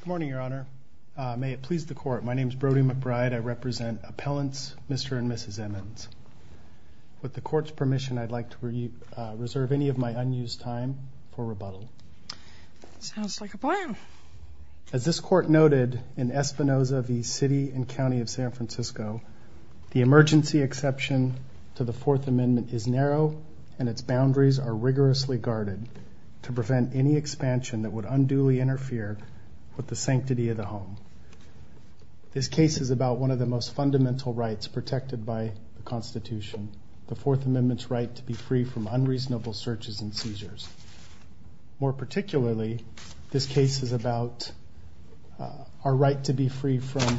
Good morning, Your Honor. May it please the Court, my name is Brody McBride. I represent appellants Mr. and Mrs. Emmons. With the Court's permission, I'd like to reserve any of my unused time for rebuttal. Sounds like a plan. As this Court noted in Espinosa v. City and County of San Francisco, the emergency exception to the Fourth Amendment is narrow and its interfere with the sanctity of the home. This case is about one of the most fundamental rights protected by the Constitution, the Fourth Amendment's right to be free from unreasonable searches and seizures. More particularly, this case is about our right to be free from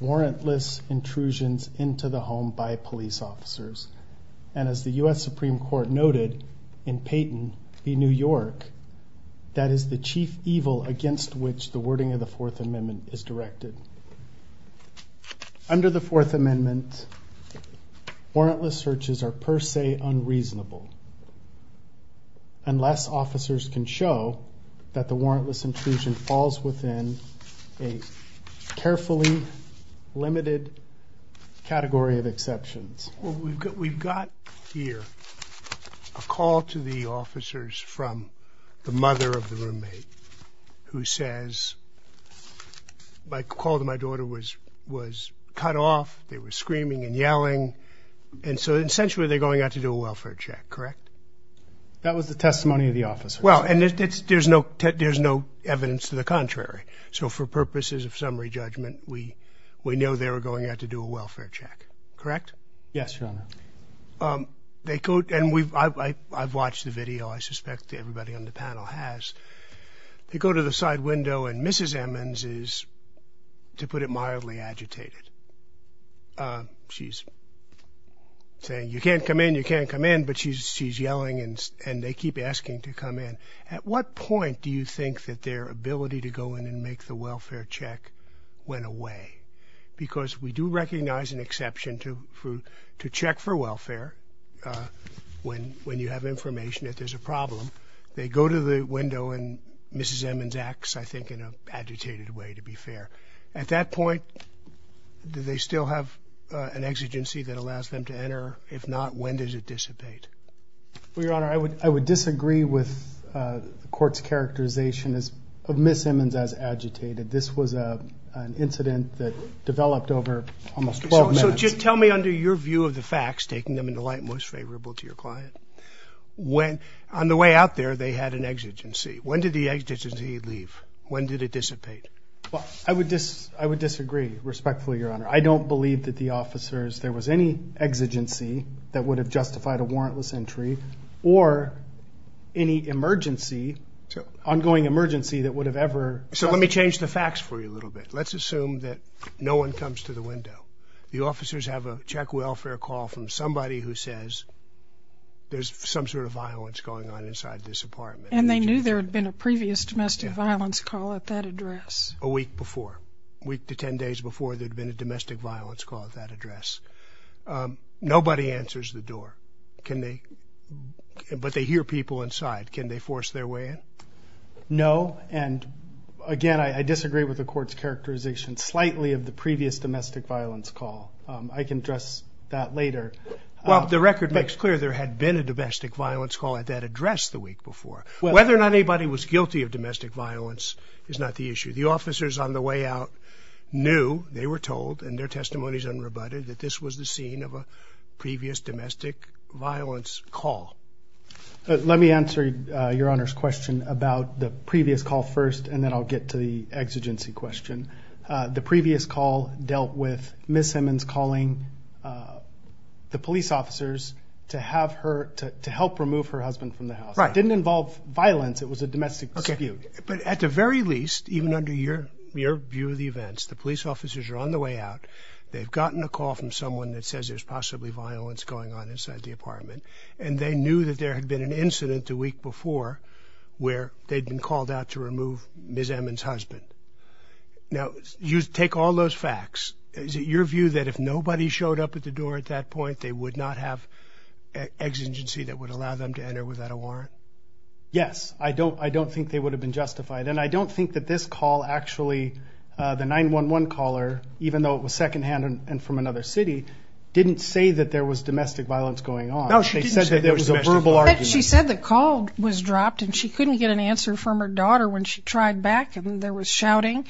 warrantless intrusions into the home by police officers. And as the U.S. Supreme Court noted in Payton v. New York, that is the chief evil against which the wording of the Fourth Amendment is directed. Under the Fourth Amendment, warrantless searches are per se unreasonable unless officers can show that the warrantless intrusion falls within a carefully limited category of exceptions. We've got here a call to the officers from the mother of the roommate who says, my call to my daughter was cut off, they were screaming and yelling, and so essentially they're going out to do a welfare check, correct? That was the testimony of the officer. Well, and there's no evidence to the contrary. So for purposes of summary judgment, we know they were going out to do a welfare check, correct? Yes, Your Honor. And I've watched the video, I suspect everybody on the panel has. They go to the side window and Mrs. Emmons is, to put it mildly, agitated. She's saying, you can't come in, you can't come in, but she's yelling and they keep asking to come in. At what do you think that their ability to go in and make the welfare check went away? Because we do recognize an exception to check for welfare when you have information that there's a problem. They go to the window and Mrs. Emmons acts, I think, in an agitated way, to be fair. At that point, do they still have an exigency that allows them to enter? If not, when does it dissipate? Well, Your Honor, I would disagree with the court's characterization of Mrs. Emmons as agitated. This was an incident that developed over almost 12 months. So just tell me, under your view of the facts, taking them into light, most favorable to your client, when, on the way out there, they had an exigency. When did the exigency leave? When did it dissipate? Well, I would disagree, respectfully, Your Honor. I don't believe that the officers, there was any exigency that would have justified a warrantless entry or any emergency, ongoing emergency, that would have ever... So let me change the facts for you a little bit. Let's assume that no one comes to the window. The officers have a check welfare call from somebody who says there's some sort of violence going on inside this apartment. And they knew there had been a previous domestic violence call at that address. A week before. A week to 10 days before there'd been a domestic violence call at that address. Nobody answers the door. Can they? But they hear people inside. Can they force their way in? No. And again, I disagree with the court's characterization, slightly, of the previous domestic violence call. I can address that later. Well, the record makes clear there had been a domestic violence call at that address the week before. Whether or not anybody was guilty of domestic violence is not the issue. The officers on the way out knew, they were told, and their testimony is unrebutted, that this was the scene of a previous domestic violence call. Let me answer your Honor's question about the previous call first, and then I'll get to the exigency question. The previous call dealt with Ms. Simmons calling the police officers to help remove her husband from the house. It didn't involve violence. It was a domestic dispute. But at the very least, even under your view of the events, the police officers are on the way out. They've gotten a call from someone that says there's possibly violence going on inside the apartment, and they knew that there had been an incident the week before where they'd been called out to remove Ms. Emmons' husband. Now, you take all those facts. Is it your view that if nobody showed up at the door at that point, they would not have exigency that would allow them to enter without a warrant? Yes. I don't think they would have justified. And I don't think that this call actually, the 911 caller, even though it was second-hand and from another city, didn't say that there was domestic violence going on. No, she said that there was a verbal argument. She said the call was dropped, and she couldn't get an answer from her daughter when she tried back, and there was shouting.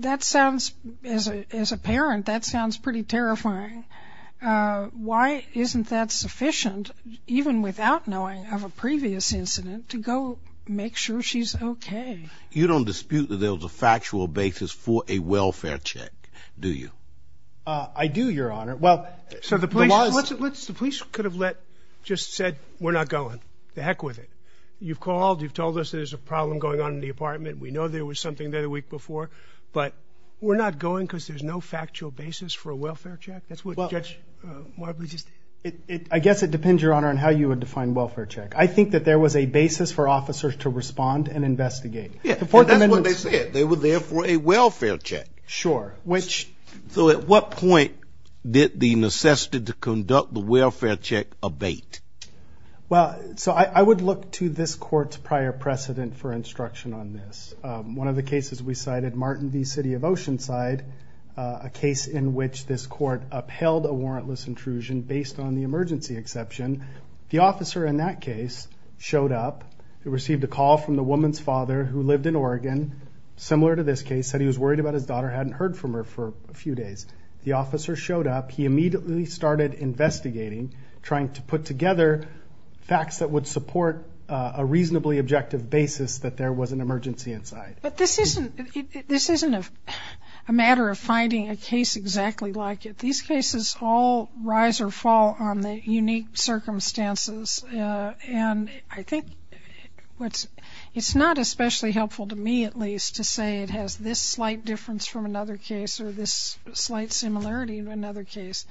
That sounds, as a parent, that sounds pretty terrifying. Why isn't that sufficient, even without knowing of a previous incident, to go make sure she's okay? You don't dispute that there was a factual basis for a welfare check, do you? I do, Your Honor. Well, so the police could have just said, we're not going. The heck with it. You've called. You've told us there's a problem going on in the apartment. We know there was something there the week before, but we're not going because there's no factual basis for a welfare check. I guess it depends, Your Honor, on how you would define welfare check. I think that there was a basis for officers to respond and investigate. Yeah, and that's what they said. They were there for a welfare check. Sure, which... So at what point did the necessity to conduct the welfare check abate? Well, so I would look to this court's prior precedent for instruction on this. One of the cases we cited, Martin v. City of Oceanside, a case in which this court upheld a warrantless intrusion based on the emergency exception. The officer in that case showed up, received a call from the woman's father who lived in Oregon, similar to this case, said he was worried about his daughter, hadn't heard from her for a few days. The officer showed up. He immediately started investigating, trying to put together facts that would support a reasonably objective basis that there was an emergency inside. But this isn't a matter of finding a case exactly like it. These cases all rise or fall on the unique circumstances. And I think what's... It's not especially helpful to me, at least, to say it has this slight difference from another case or this slight similarity of another case.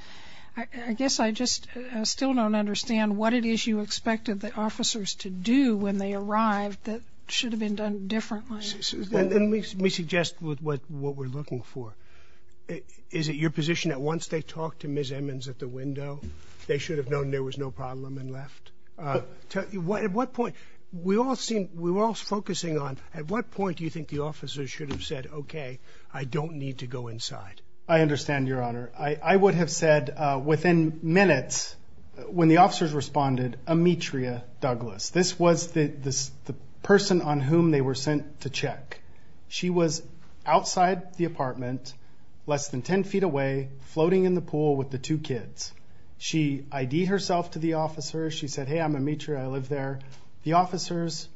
I guess I just still don't understand what it is you expected the officers to do when they arrived that should have been done differently. And let me suggest what we're looking for. Is it your position that once they talked to Ms. Emmons at the window, they should have known there was no problem and left? At what point... We all seem... We're all focusing on, at what point do you think the officers should have said, okay, I don't need to go inside? I understand, Your Honor. I would have said within minutes when the officers responded, Ametria Douglas. This was the person on whom they were sent to check. She was outside the apartment, less than 10 feet away, floating in the pool with the two kids. She ID herself to the officers. She said, hey, I'm Ametria. I live there. The officers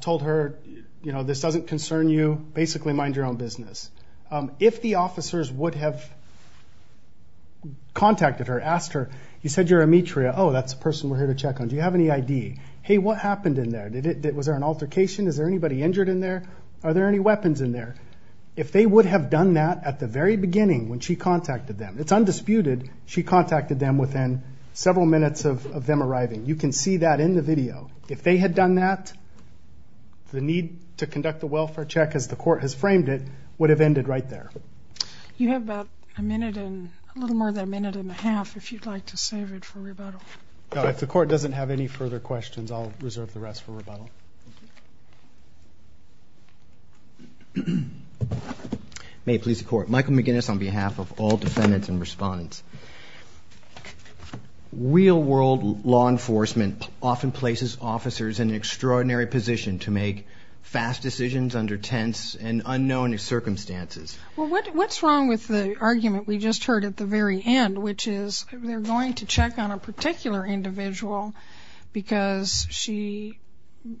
told her, this doesn't concern you. Basically, mind your own business. If the officers would have contacted her, asked her, you said you're Ametria. Oh, that's the person we're here to check on. Do you have any ID? Hey, what happened in there? Was there an altercation? Is there anybody injured in there? Are there any weapons in there? If they would have done that at the very beginning when she contacted them, it's undisputed she contacted them within several minutes of them arriving. You can see that in the video. If they had done that, the need to conduct the welfare check as the court has framed it would have ended right there. You have about a minute and... A little more than a minute and a half if you'd like to save it for rebuttal. No, if the court... May it please the court. Michael McGinnis on behalf of all defendants and respondents. Real world law enforcement often places officers in an extraordinary position to make fast decisions under tense and unknown circumstances. Well, what's wrong with the argument we just heard at the very end, which is they're going to check on a particular individual because she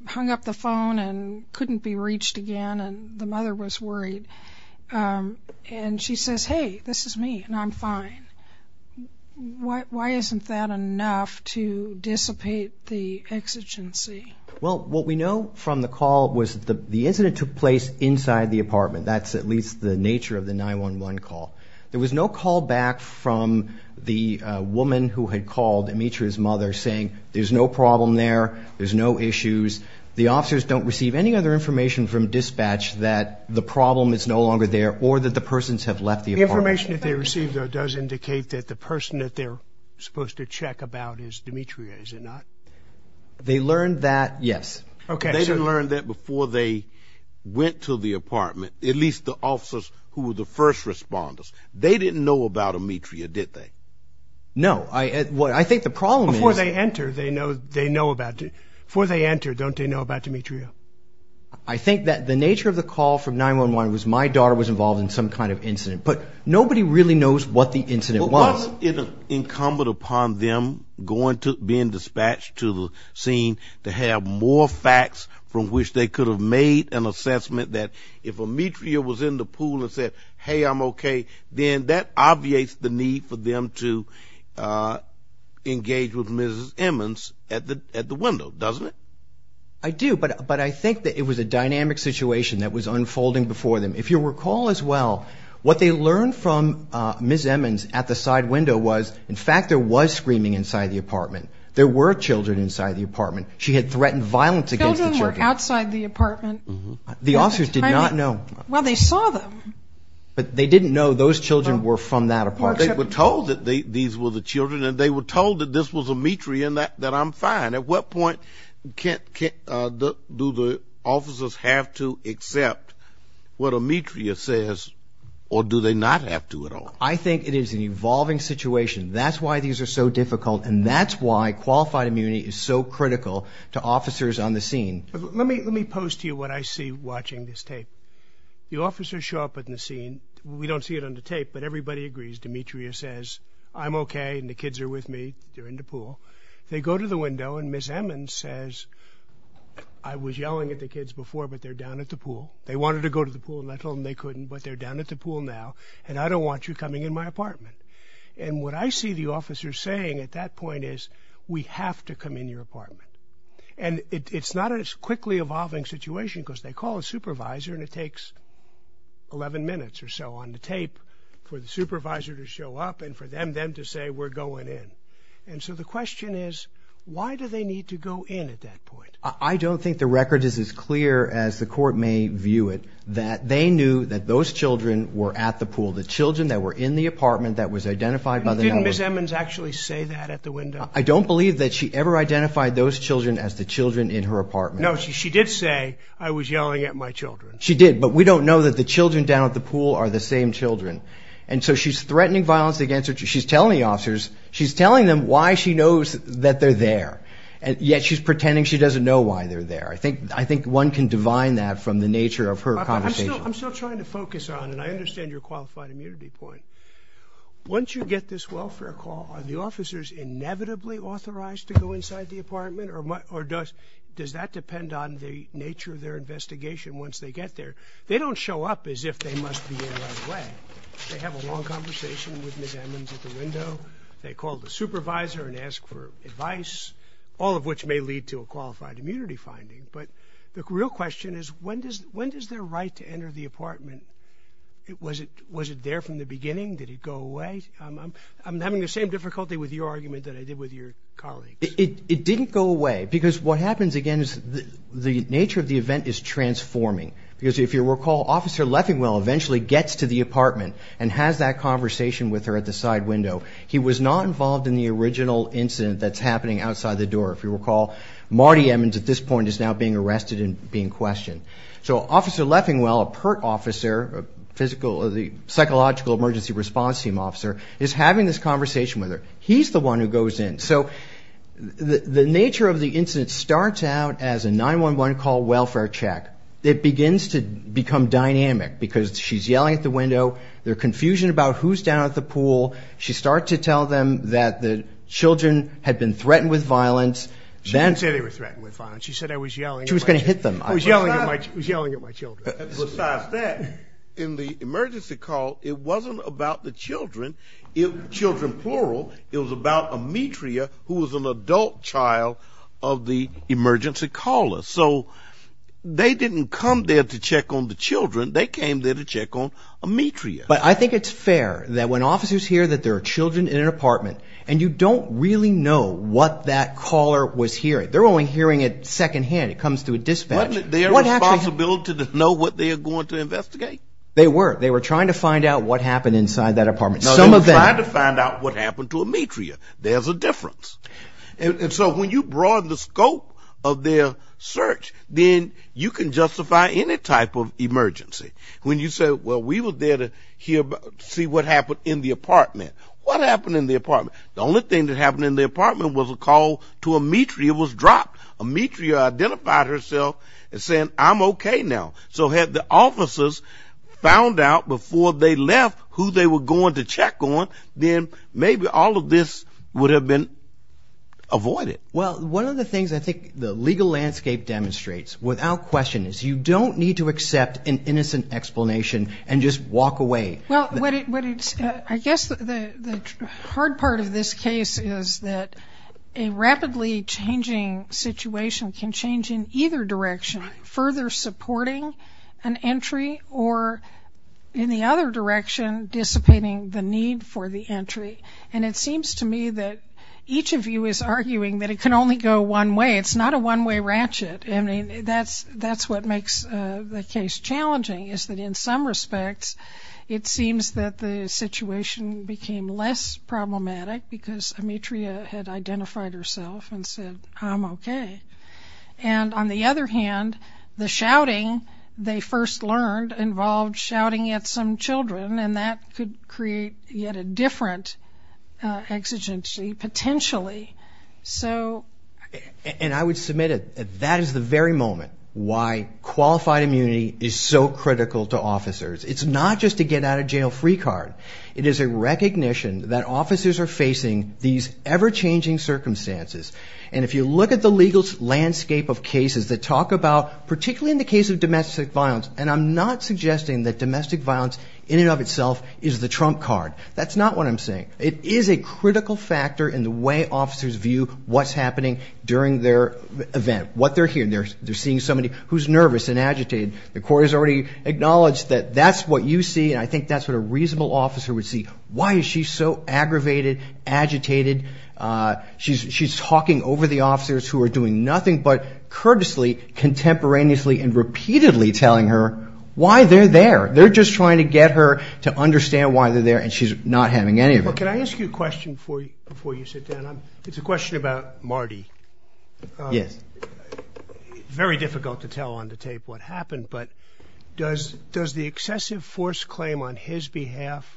hung up the phone and couldn't be reached again and the mother was worried. And she says, hey, this is me and I'm fine. Why isn't that enough to dissipate the exigency? Well, what we know from the call was that the incident took place inside the apartment. That's at least the nature of the 911 call. There was no call back from the woman who had called Amitra's mother saying there's no problem there, there's no issues. The officers don't receive any other information from dispatch that the problem is no longer there or that the persons have left the apartment. The information that they received though does indicate that the person that they're supposed to check about is Amitra, is it not? They learned that, yes. Okay. They learned that before they went to the apartment, at least the officers who were the first responders, they didn't know about Amitra, did they? No. I think the problem is... Before they enter, they know about it. Before they enter, don't they know about Amitra? I think that the nature of the call from 911 was my daughter was involved in some kind of incident, but nobody really knows what the incident was. Was it incumbent upon them going to, being dispatched to the scene to have more facts from which they could have made an assessment that if Amitra was in the pool and said, hey, I'm okay, then that obviates the need for them to engage with Ms. Emmons at the window, doesn't it? I do, but I think that it was a dynamic situation that was unfolding before them. If you recall as well, what they learned from Ms. Emmons at the side window was in fact there was screaming inside the apartment. There were children inside the apartment. She had threatened violence against outside the apartment. The officers did not know. Well, they saw them. But they didn't know those children were from that apartment. They were told that these were the children and they were told that this was Amitra and that I'm fine. At what point do the officers have to accept what Amitra says or do they not have to at all? I think it is an evolving situation. That's why these are so difficult and that's why qualified immunity is so critical to officers on the scene. Let me post to you what I see watching this tape. The officers show up in the scene. We don't see it on the tape, but everybody agrees. Demetria says, I'm okay and the kids are with me. They're in the pool. They go to the window and Ms. Emmons says, I was yelling at the kids before, but they're down at the pool. They wanted to go to the pool and I told them they couldn't, but they're down at the pool now and I don't want you coming in my apartment. And what I see the officers saying at that point is, we have to come in your apartment. And it's not a quickly evolving situation because they call a supervisor and it takes 11 minutes or so on the tape for the supervisor to show up and for them to say we're going in. And so the question is, why do they need to go in at that point? I don't think the record is as clear as the court may view it that they knew that those children were at the pool. The children that were in the apartment that was identified by the number. Didn't Ms. Emmons actually say that at the window? I don't believe that she ever identified those children as the children in her apartment. No, she did say, I was yelling at my children. She did, but we don't know that the children down at the pool are the same children. And so she's threatening violence against her. She's telling the officers, she's telling them why she knows that they're there. And yet she's pretending she doesn't know why they're there. I think, I think one can divine that from the nature of her conversation. I'm still trying to focus on, and I understand your qualified immunity point. Once you get this welfare call, are the officers inevitably authorized to go inside the apartment? Or does that depend on the nature of their investigation? Once they get there, they don't show up as if they must be in the right way. They have a long conversation with Ms. Emmons at the window. They call the supervisor and ask for the real question is, when does their right to enter the apartment? Was it there from the beginning? Did it go away? I'm having the same difficulty with your argument that I did with your colleagues. It didn't go away. Because what happens again is the nature of the event is transforming. Because if you recall, Officer Leffingwell eventually gets to the apartment and has that conversation with her at the side window. He was not involved in the original incident that's happening outside the door. If you recall, Marty Emmons at this point is now being arrested and being questioned. So Officer Leffingwell, a PERT officer, the Psychological Emergency Response Team officer, is having this conversation with her. He's the one who goes in. So the nature of the incident starts out as a 911 call welfare check. It begins to become dynamic because she's yelling at the window. There's confusion about who's down at the pool. She starts to tell them that the children had been threatened with violence. She didn't say threatened with violence. She said I was yelling. She was going to hit them. I was yelling at my children. Besides that, in the emergency call, it wasn't about the children. Children plural. It was about a METREA who was an adult child of the emergency caller. So they didn't come there to check on the children. They came there to check on a METREA. But I think it's fair that when officers hear that there are children in an apartment and you don't really know what that is, it comes to a dispatch. Wasn't it their responsibility to know what they were going to investigate? They were. They were trying to find out what happened inside that apartment. No, they were trying to find out what happened to a METREA. There's a difference. And so when you broaden the scope of their search, then you can justify any type of emergency. When you say, well, we were there to see what happened in the apartment. What happened in the apartment? The thing that happened in the apartment was a call to a METREA was dropped. A METREA identified herself and said, I'm okay now. So had the officers found out before they left who they were going to check on, then maybe all of this would have been avoided. Well, one of the things I think the legal landscape demonstrates without question is you don't need to accept an innocent explanation and just walk away. I guess the hard part of this case is that a rapidly changing situation can change in either direction, further supporting an entry or in the other direction, dissipating the need for the entry. And it seems to me that each of you is arguing that it can only go one way. It's not a one-way ratchet. That's what makes the case challenging is that in some respects, it seems that the situation became less problematic because a METREA had identified herself and said, I'm okay. And on the other hand, the shouting they first learned involved shouting at some children, and that could create yet a different exigency potentially. And I would submit that that is the very moment why qualified immunity is so critical to officers. It's not just to get out of jail free card. It is a recognition that officers are facing these ever-changing circumstances. And if you look at the legal landscape of cases that talk about, particularly in the case of domestic violence, and I'm not suggesting that domestic violence in and of itself is the trump card. That's not what I'm saying. It is a critical factor in the way officers view what's happening during their event, what they're hearing. They're seeing somebody who's nervous and agitated. The court has already acknowledged that that's what you see. And I think that's what a reasonable officer would see. Why is she so aggravated, agitated? She's talking over the officers who are doing nothing but courteously, contemporaneously, and repeatedly telling her why they're there. They're just trying to get her to understand why they're there, and she's not having any of it. Can I ask you a question before you sit down? It's a question about Marty. Very difficult to tell on the tape what happened, but does the excessive force claim on his behalf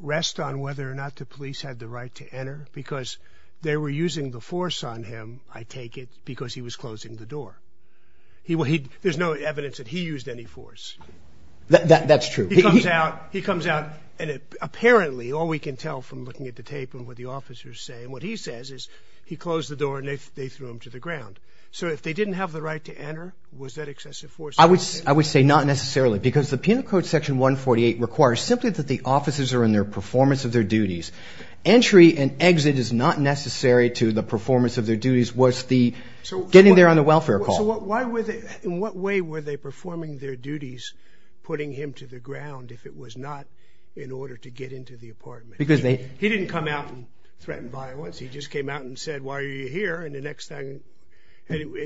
rest on whether or not the police had the right to enter? Because they were using the force on him, I take it, because he was closing the door. There's no evidence that he used any force. That's true. He comes out, and apparently, all we can tell from looking at the tape and what the officers say, and what he says, is he closed the door and they threw him to the ground. So if they didn't have the right to enter, was that excessive force? I would say not necessarily, because the Penal Code Section 148 requires simply that the officers are in their performance of their duties. Entry and exit is not necessary to the performance of their duties. It was getting there on the welfare call. In what way were they performing their duties, putting him to the ground, if it was not in order to get into the apartment? He didn't come out and threaten violence. He just came out and said, and the next thing, and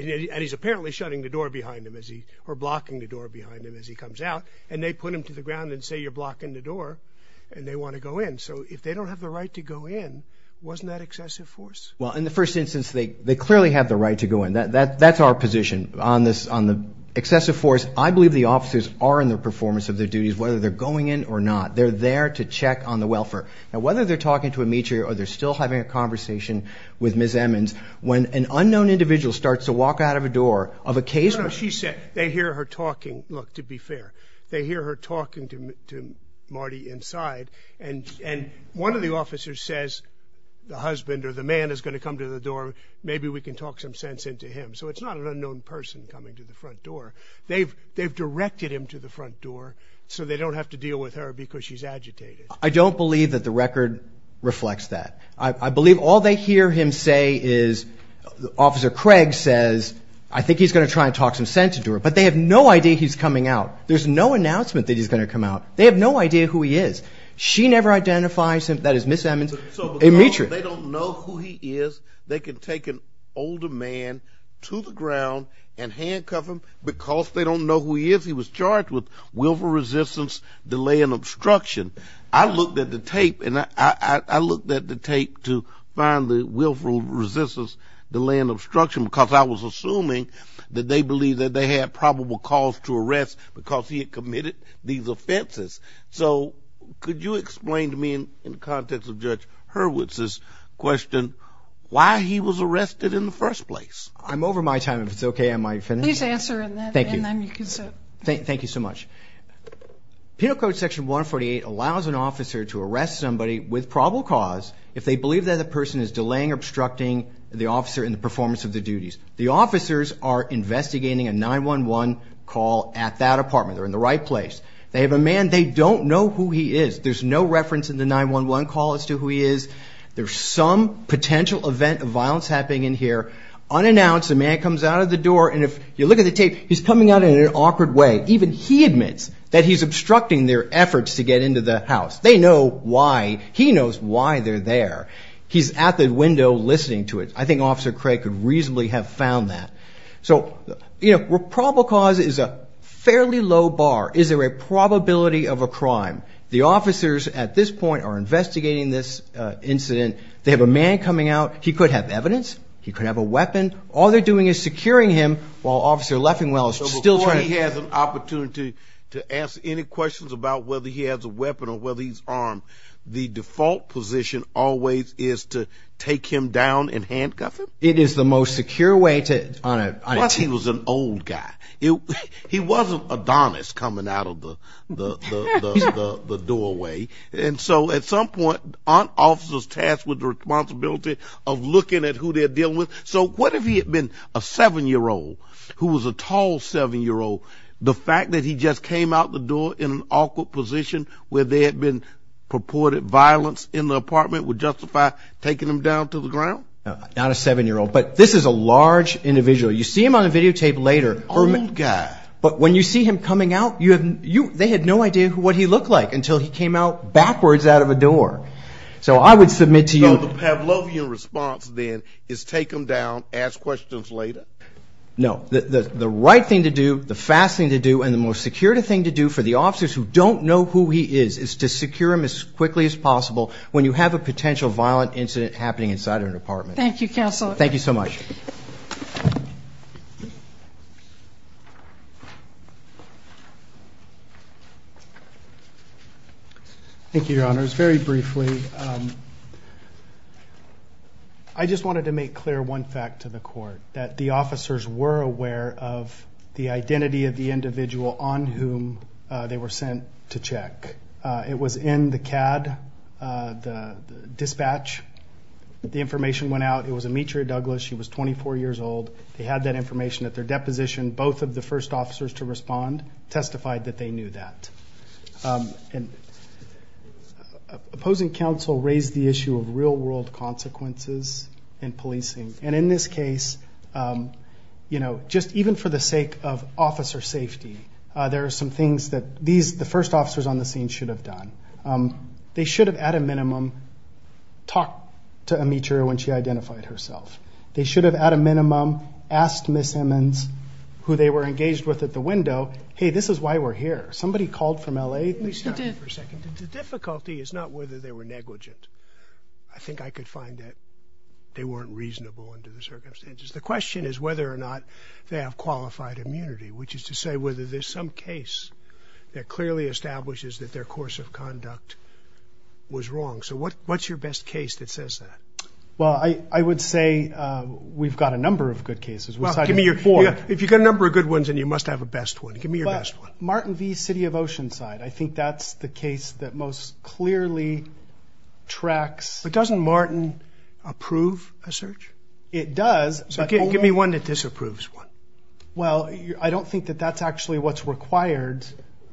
he's apparently shutting the door behind him, or blocking the door behind him as he comes out, and they put him to the ground and say, you're blocking the door, and they want to go in. So if they don't have the right to go in, wasn't that excessive force? Well, in the first instance, they clearly have the right to go in. That's our position. On the excessive force, I believe the officers are in the performance of their duties, whether they're going in or not. They're there to check on the welfare. Now, are they still having a conversation with Ms. Emmons when an unknown individual starts to walk out of a door of a case? No, she said they hear her talking. Look, to be fair, they hear her talking to Marty inside, and one of the officers says, the husband or the man is going to come to the door. Maybe we can talk some sense into him. So it's not an unknown person coming to the front door. They've directed him to the front door so they don't have to deal with her because she's agitated. I don't believe that the record reflects that. I believe all they hear him say is Officer Craig says, I think he's going to try and talk some sense into her, but they have no idea he's coming out. There's no announcement that he's going to come out. They have no idea who he is. She never identifies him. That is Ms. Emmons. So because they don't know who he is, they can take an older man to the ground and handcuff him because they don't know who he is. He was charged with willful resistance, delay, and obstruction. I looked at the tape to find the willful resistance, delay, and obstruction because I was assuming that they believed that they had probable cause to arrest because he had committed these offenses. So could you explain to me, in the context of Judge Hurwitz's question, why he was arrested in the first place? I'm over my time. If it's okay, I might finish. Please answer and then you can sit. Thank you so much. Penal Code Section 148 allows an officer to arrest somebody with probable cause if they believe that the person is delaying obstructing the officer in the performance of the duties. The officers are investigating a 9-1-1 call at that apartment. They're in the right place. They have a man. They don't know who he is. There's no reference in the 9-1-1 call as to who he is. There's some potential event of violence happening in here. Unannounced, a man comes out of the door. And if you look at the tape, he's coming out in an awkward way. Even he admits that he's obstructing their efforts to get into the house. They know why. He knows why they're there. He's at the window listening to it. I think Officer Craig could reasonably have found that. So probable cause is a fairly low bar. Is there a probability of a crime? The officers at this point are investigating this incident. They have a man coming out. He could have evidence. He could have a weapon. All they're doing is securing him while Officer Leffingwell is still trying. So before he has an opportunity to ask any questions about whether he has a weapon or whether he's armed, the default position always is to take him down and handcuff him? It is the most secure way to... Plus he was an old guy. He wasn't Adonis coming out of the doorway. And so at some point, aren't officers tasked with the responsibility of looking at who they're dealing with? So what if he had been a seven-year-old who was a tall seven-year-old? The fact that he just came out the door in an awkward position where there had been purported violence in the apartment would justify taking him down to the ground? Not a seven-year-old, but this is a large individual. You see him on the videotape later. Old guy. But when you see him coming out, they had no idea what he looked like until he came out backwards out of a door. So I would submit to you... So the Pavlovian response then is take him down, ask questions later? No. The right thing to do, the fast thing to do, and the most secure thing to do for the officers who don't know who he is, is to secure him as quickly as possible when you have a potential violent incident happening inside an apartment. Thank you, Counselor. Thank you so much. Thank you, Your Honors. Very briefly, I just wanted to make clear one fact to the court, that the officers were aware of the identity of the individual on whom they were sent to check. It was in the CAD, the dispatch. The information went out. It was Ametria Douglas. She was 24 years old. They had that information at their deposition. Both of the first officers to respond testified that they knew that. And opposing counsel raised the issue of real-world consequences in policing. And in this case, just even for the sake of officer safety, there are some things that the first officers on the scene should have done. They should have, at a minimum, talked to Ametria when she identified herself. They should have, at a minimum, asked Ms. Emmons, who they were engaged with at the window, hey, this is why we're here. Somebody called from L.A. Let me stop you for a second. The difficulty is not whether they were negligent. I think I could find that they weren't reasonable under the circumstances. The question is whether or not they have qualified immunity, which is to say whether there's some case that clearly establishes that their course of conduct was wrong. So what's your best case that says that? Well, I would say we've got a number of good cases. If you've got a number of good ones, then you must have a best one. Give me your best one. Martin v. City of Oceanside. I think that's the case that most clearly tracks... But doesn't Martin approve a search? It does. So give me one that disapproves one. Well, I don't think that that's actually what's required.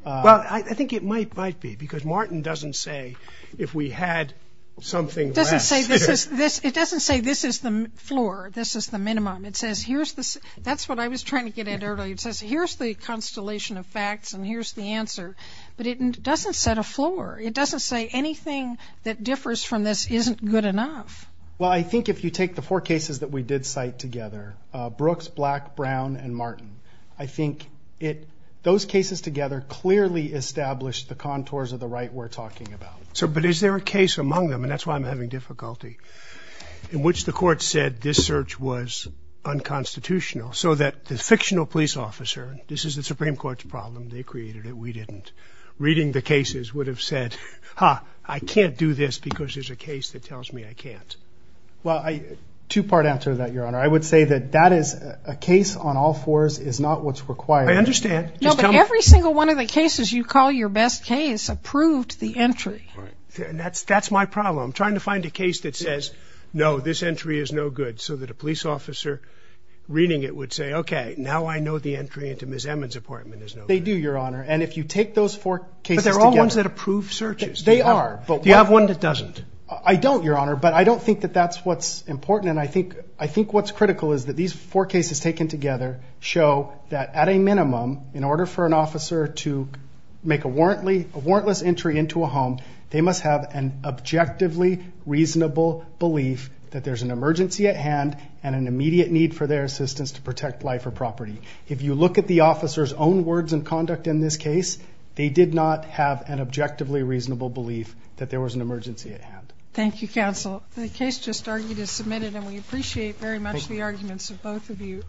Well, I think it might be, because Martin doesn't say if we had something less. It doesn't say this is the floor, this is the minimum. That's what I was trying to get at earlier. It says here's the constellation of facts and here's the answer. But it doesn't set a floor. It doesn't say anything that differs from this isn't good enough. Well, I think if you take the four cases that we did cite together, Brooks, Black, Brown, and Martin, I think those cases together clearly established the contours of the right we're talking about. But is there a case among them, and that's why I'm having difficulty, in which the court said this search was unconstitutional so that the fictional police officer... This is the Supreme Court's problem. They created it. We didn't. Reading the cases would have said, ha, I can't do this because there's a case that tells me I can't. Well, two-part answer to that, Your Honor. I would say that that is a case on all fours is not what's required. I understand. No, but every single one of the cases you call your best case approved the entry. Right. And that's my problem. I'm trying to find a case that says, no, this entry is no good, so that a police officer reading it would say, okay, now I know the entry into Ms. Emmons' apartment is no good. They do, Your Honor. And if you take those four cases together... But they're all ones that approve searches. They are. Do you have one that doesn't? I don't, Your Honor, but I don't think that that's what's important. And I think what's critical is that these four cases taken together show that at a minimum, in order for an officer to make a warrantless entry into a home, they must have an objectively reasonable belief that there's an emergency at hand and an immediate need for their assistance to protect life or property. If you look at the officer's own words and conduct in this case, they did have an objectively reasonable belief that there was an emergency at hand. Thank you, counsel. The case just argued is submitted, and we appreciate very much the arguments of both of you.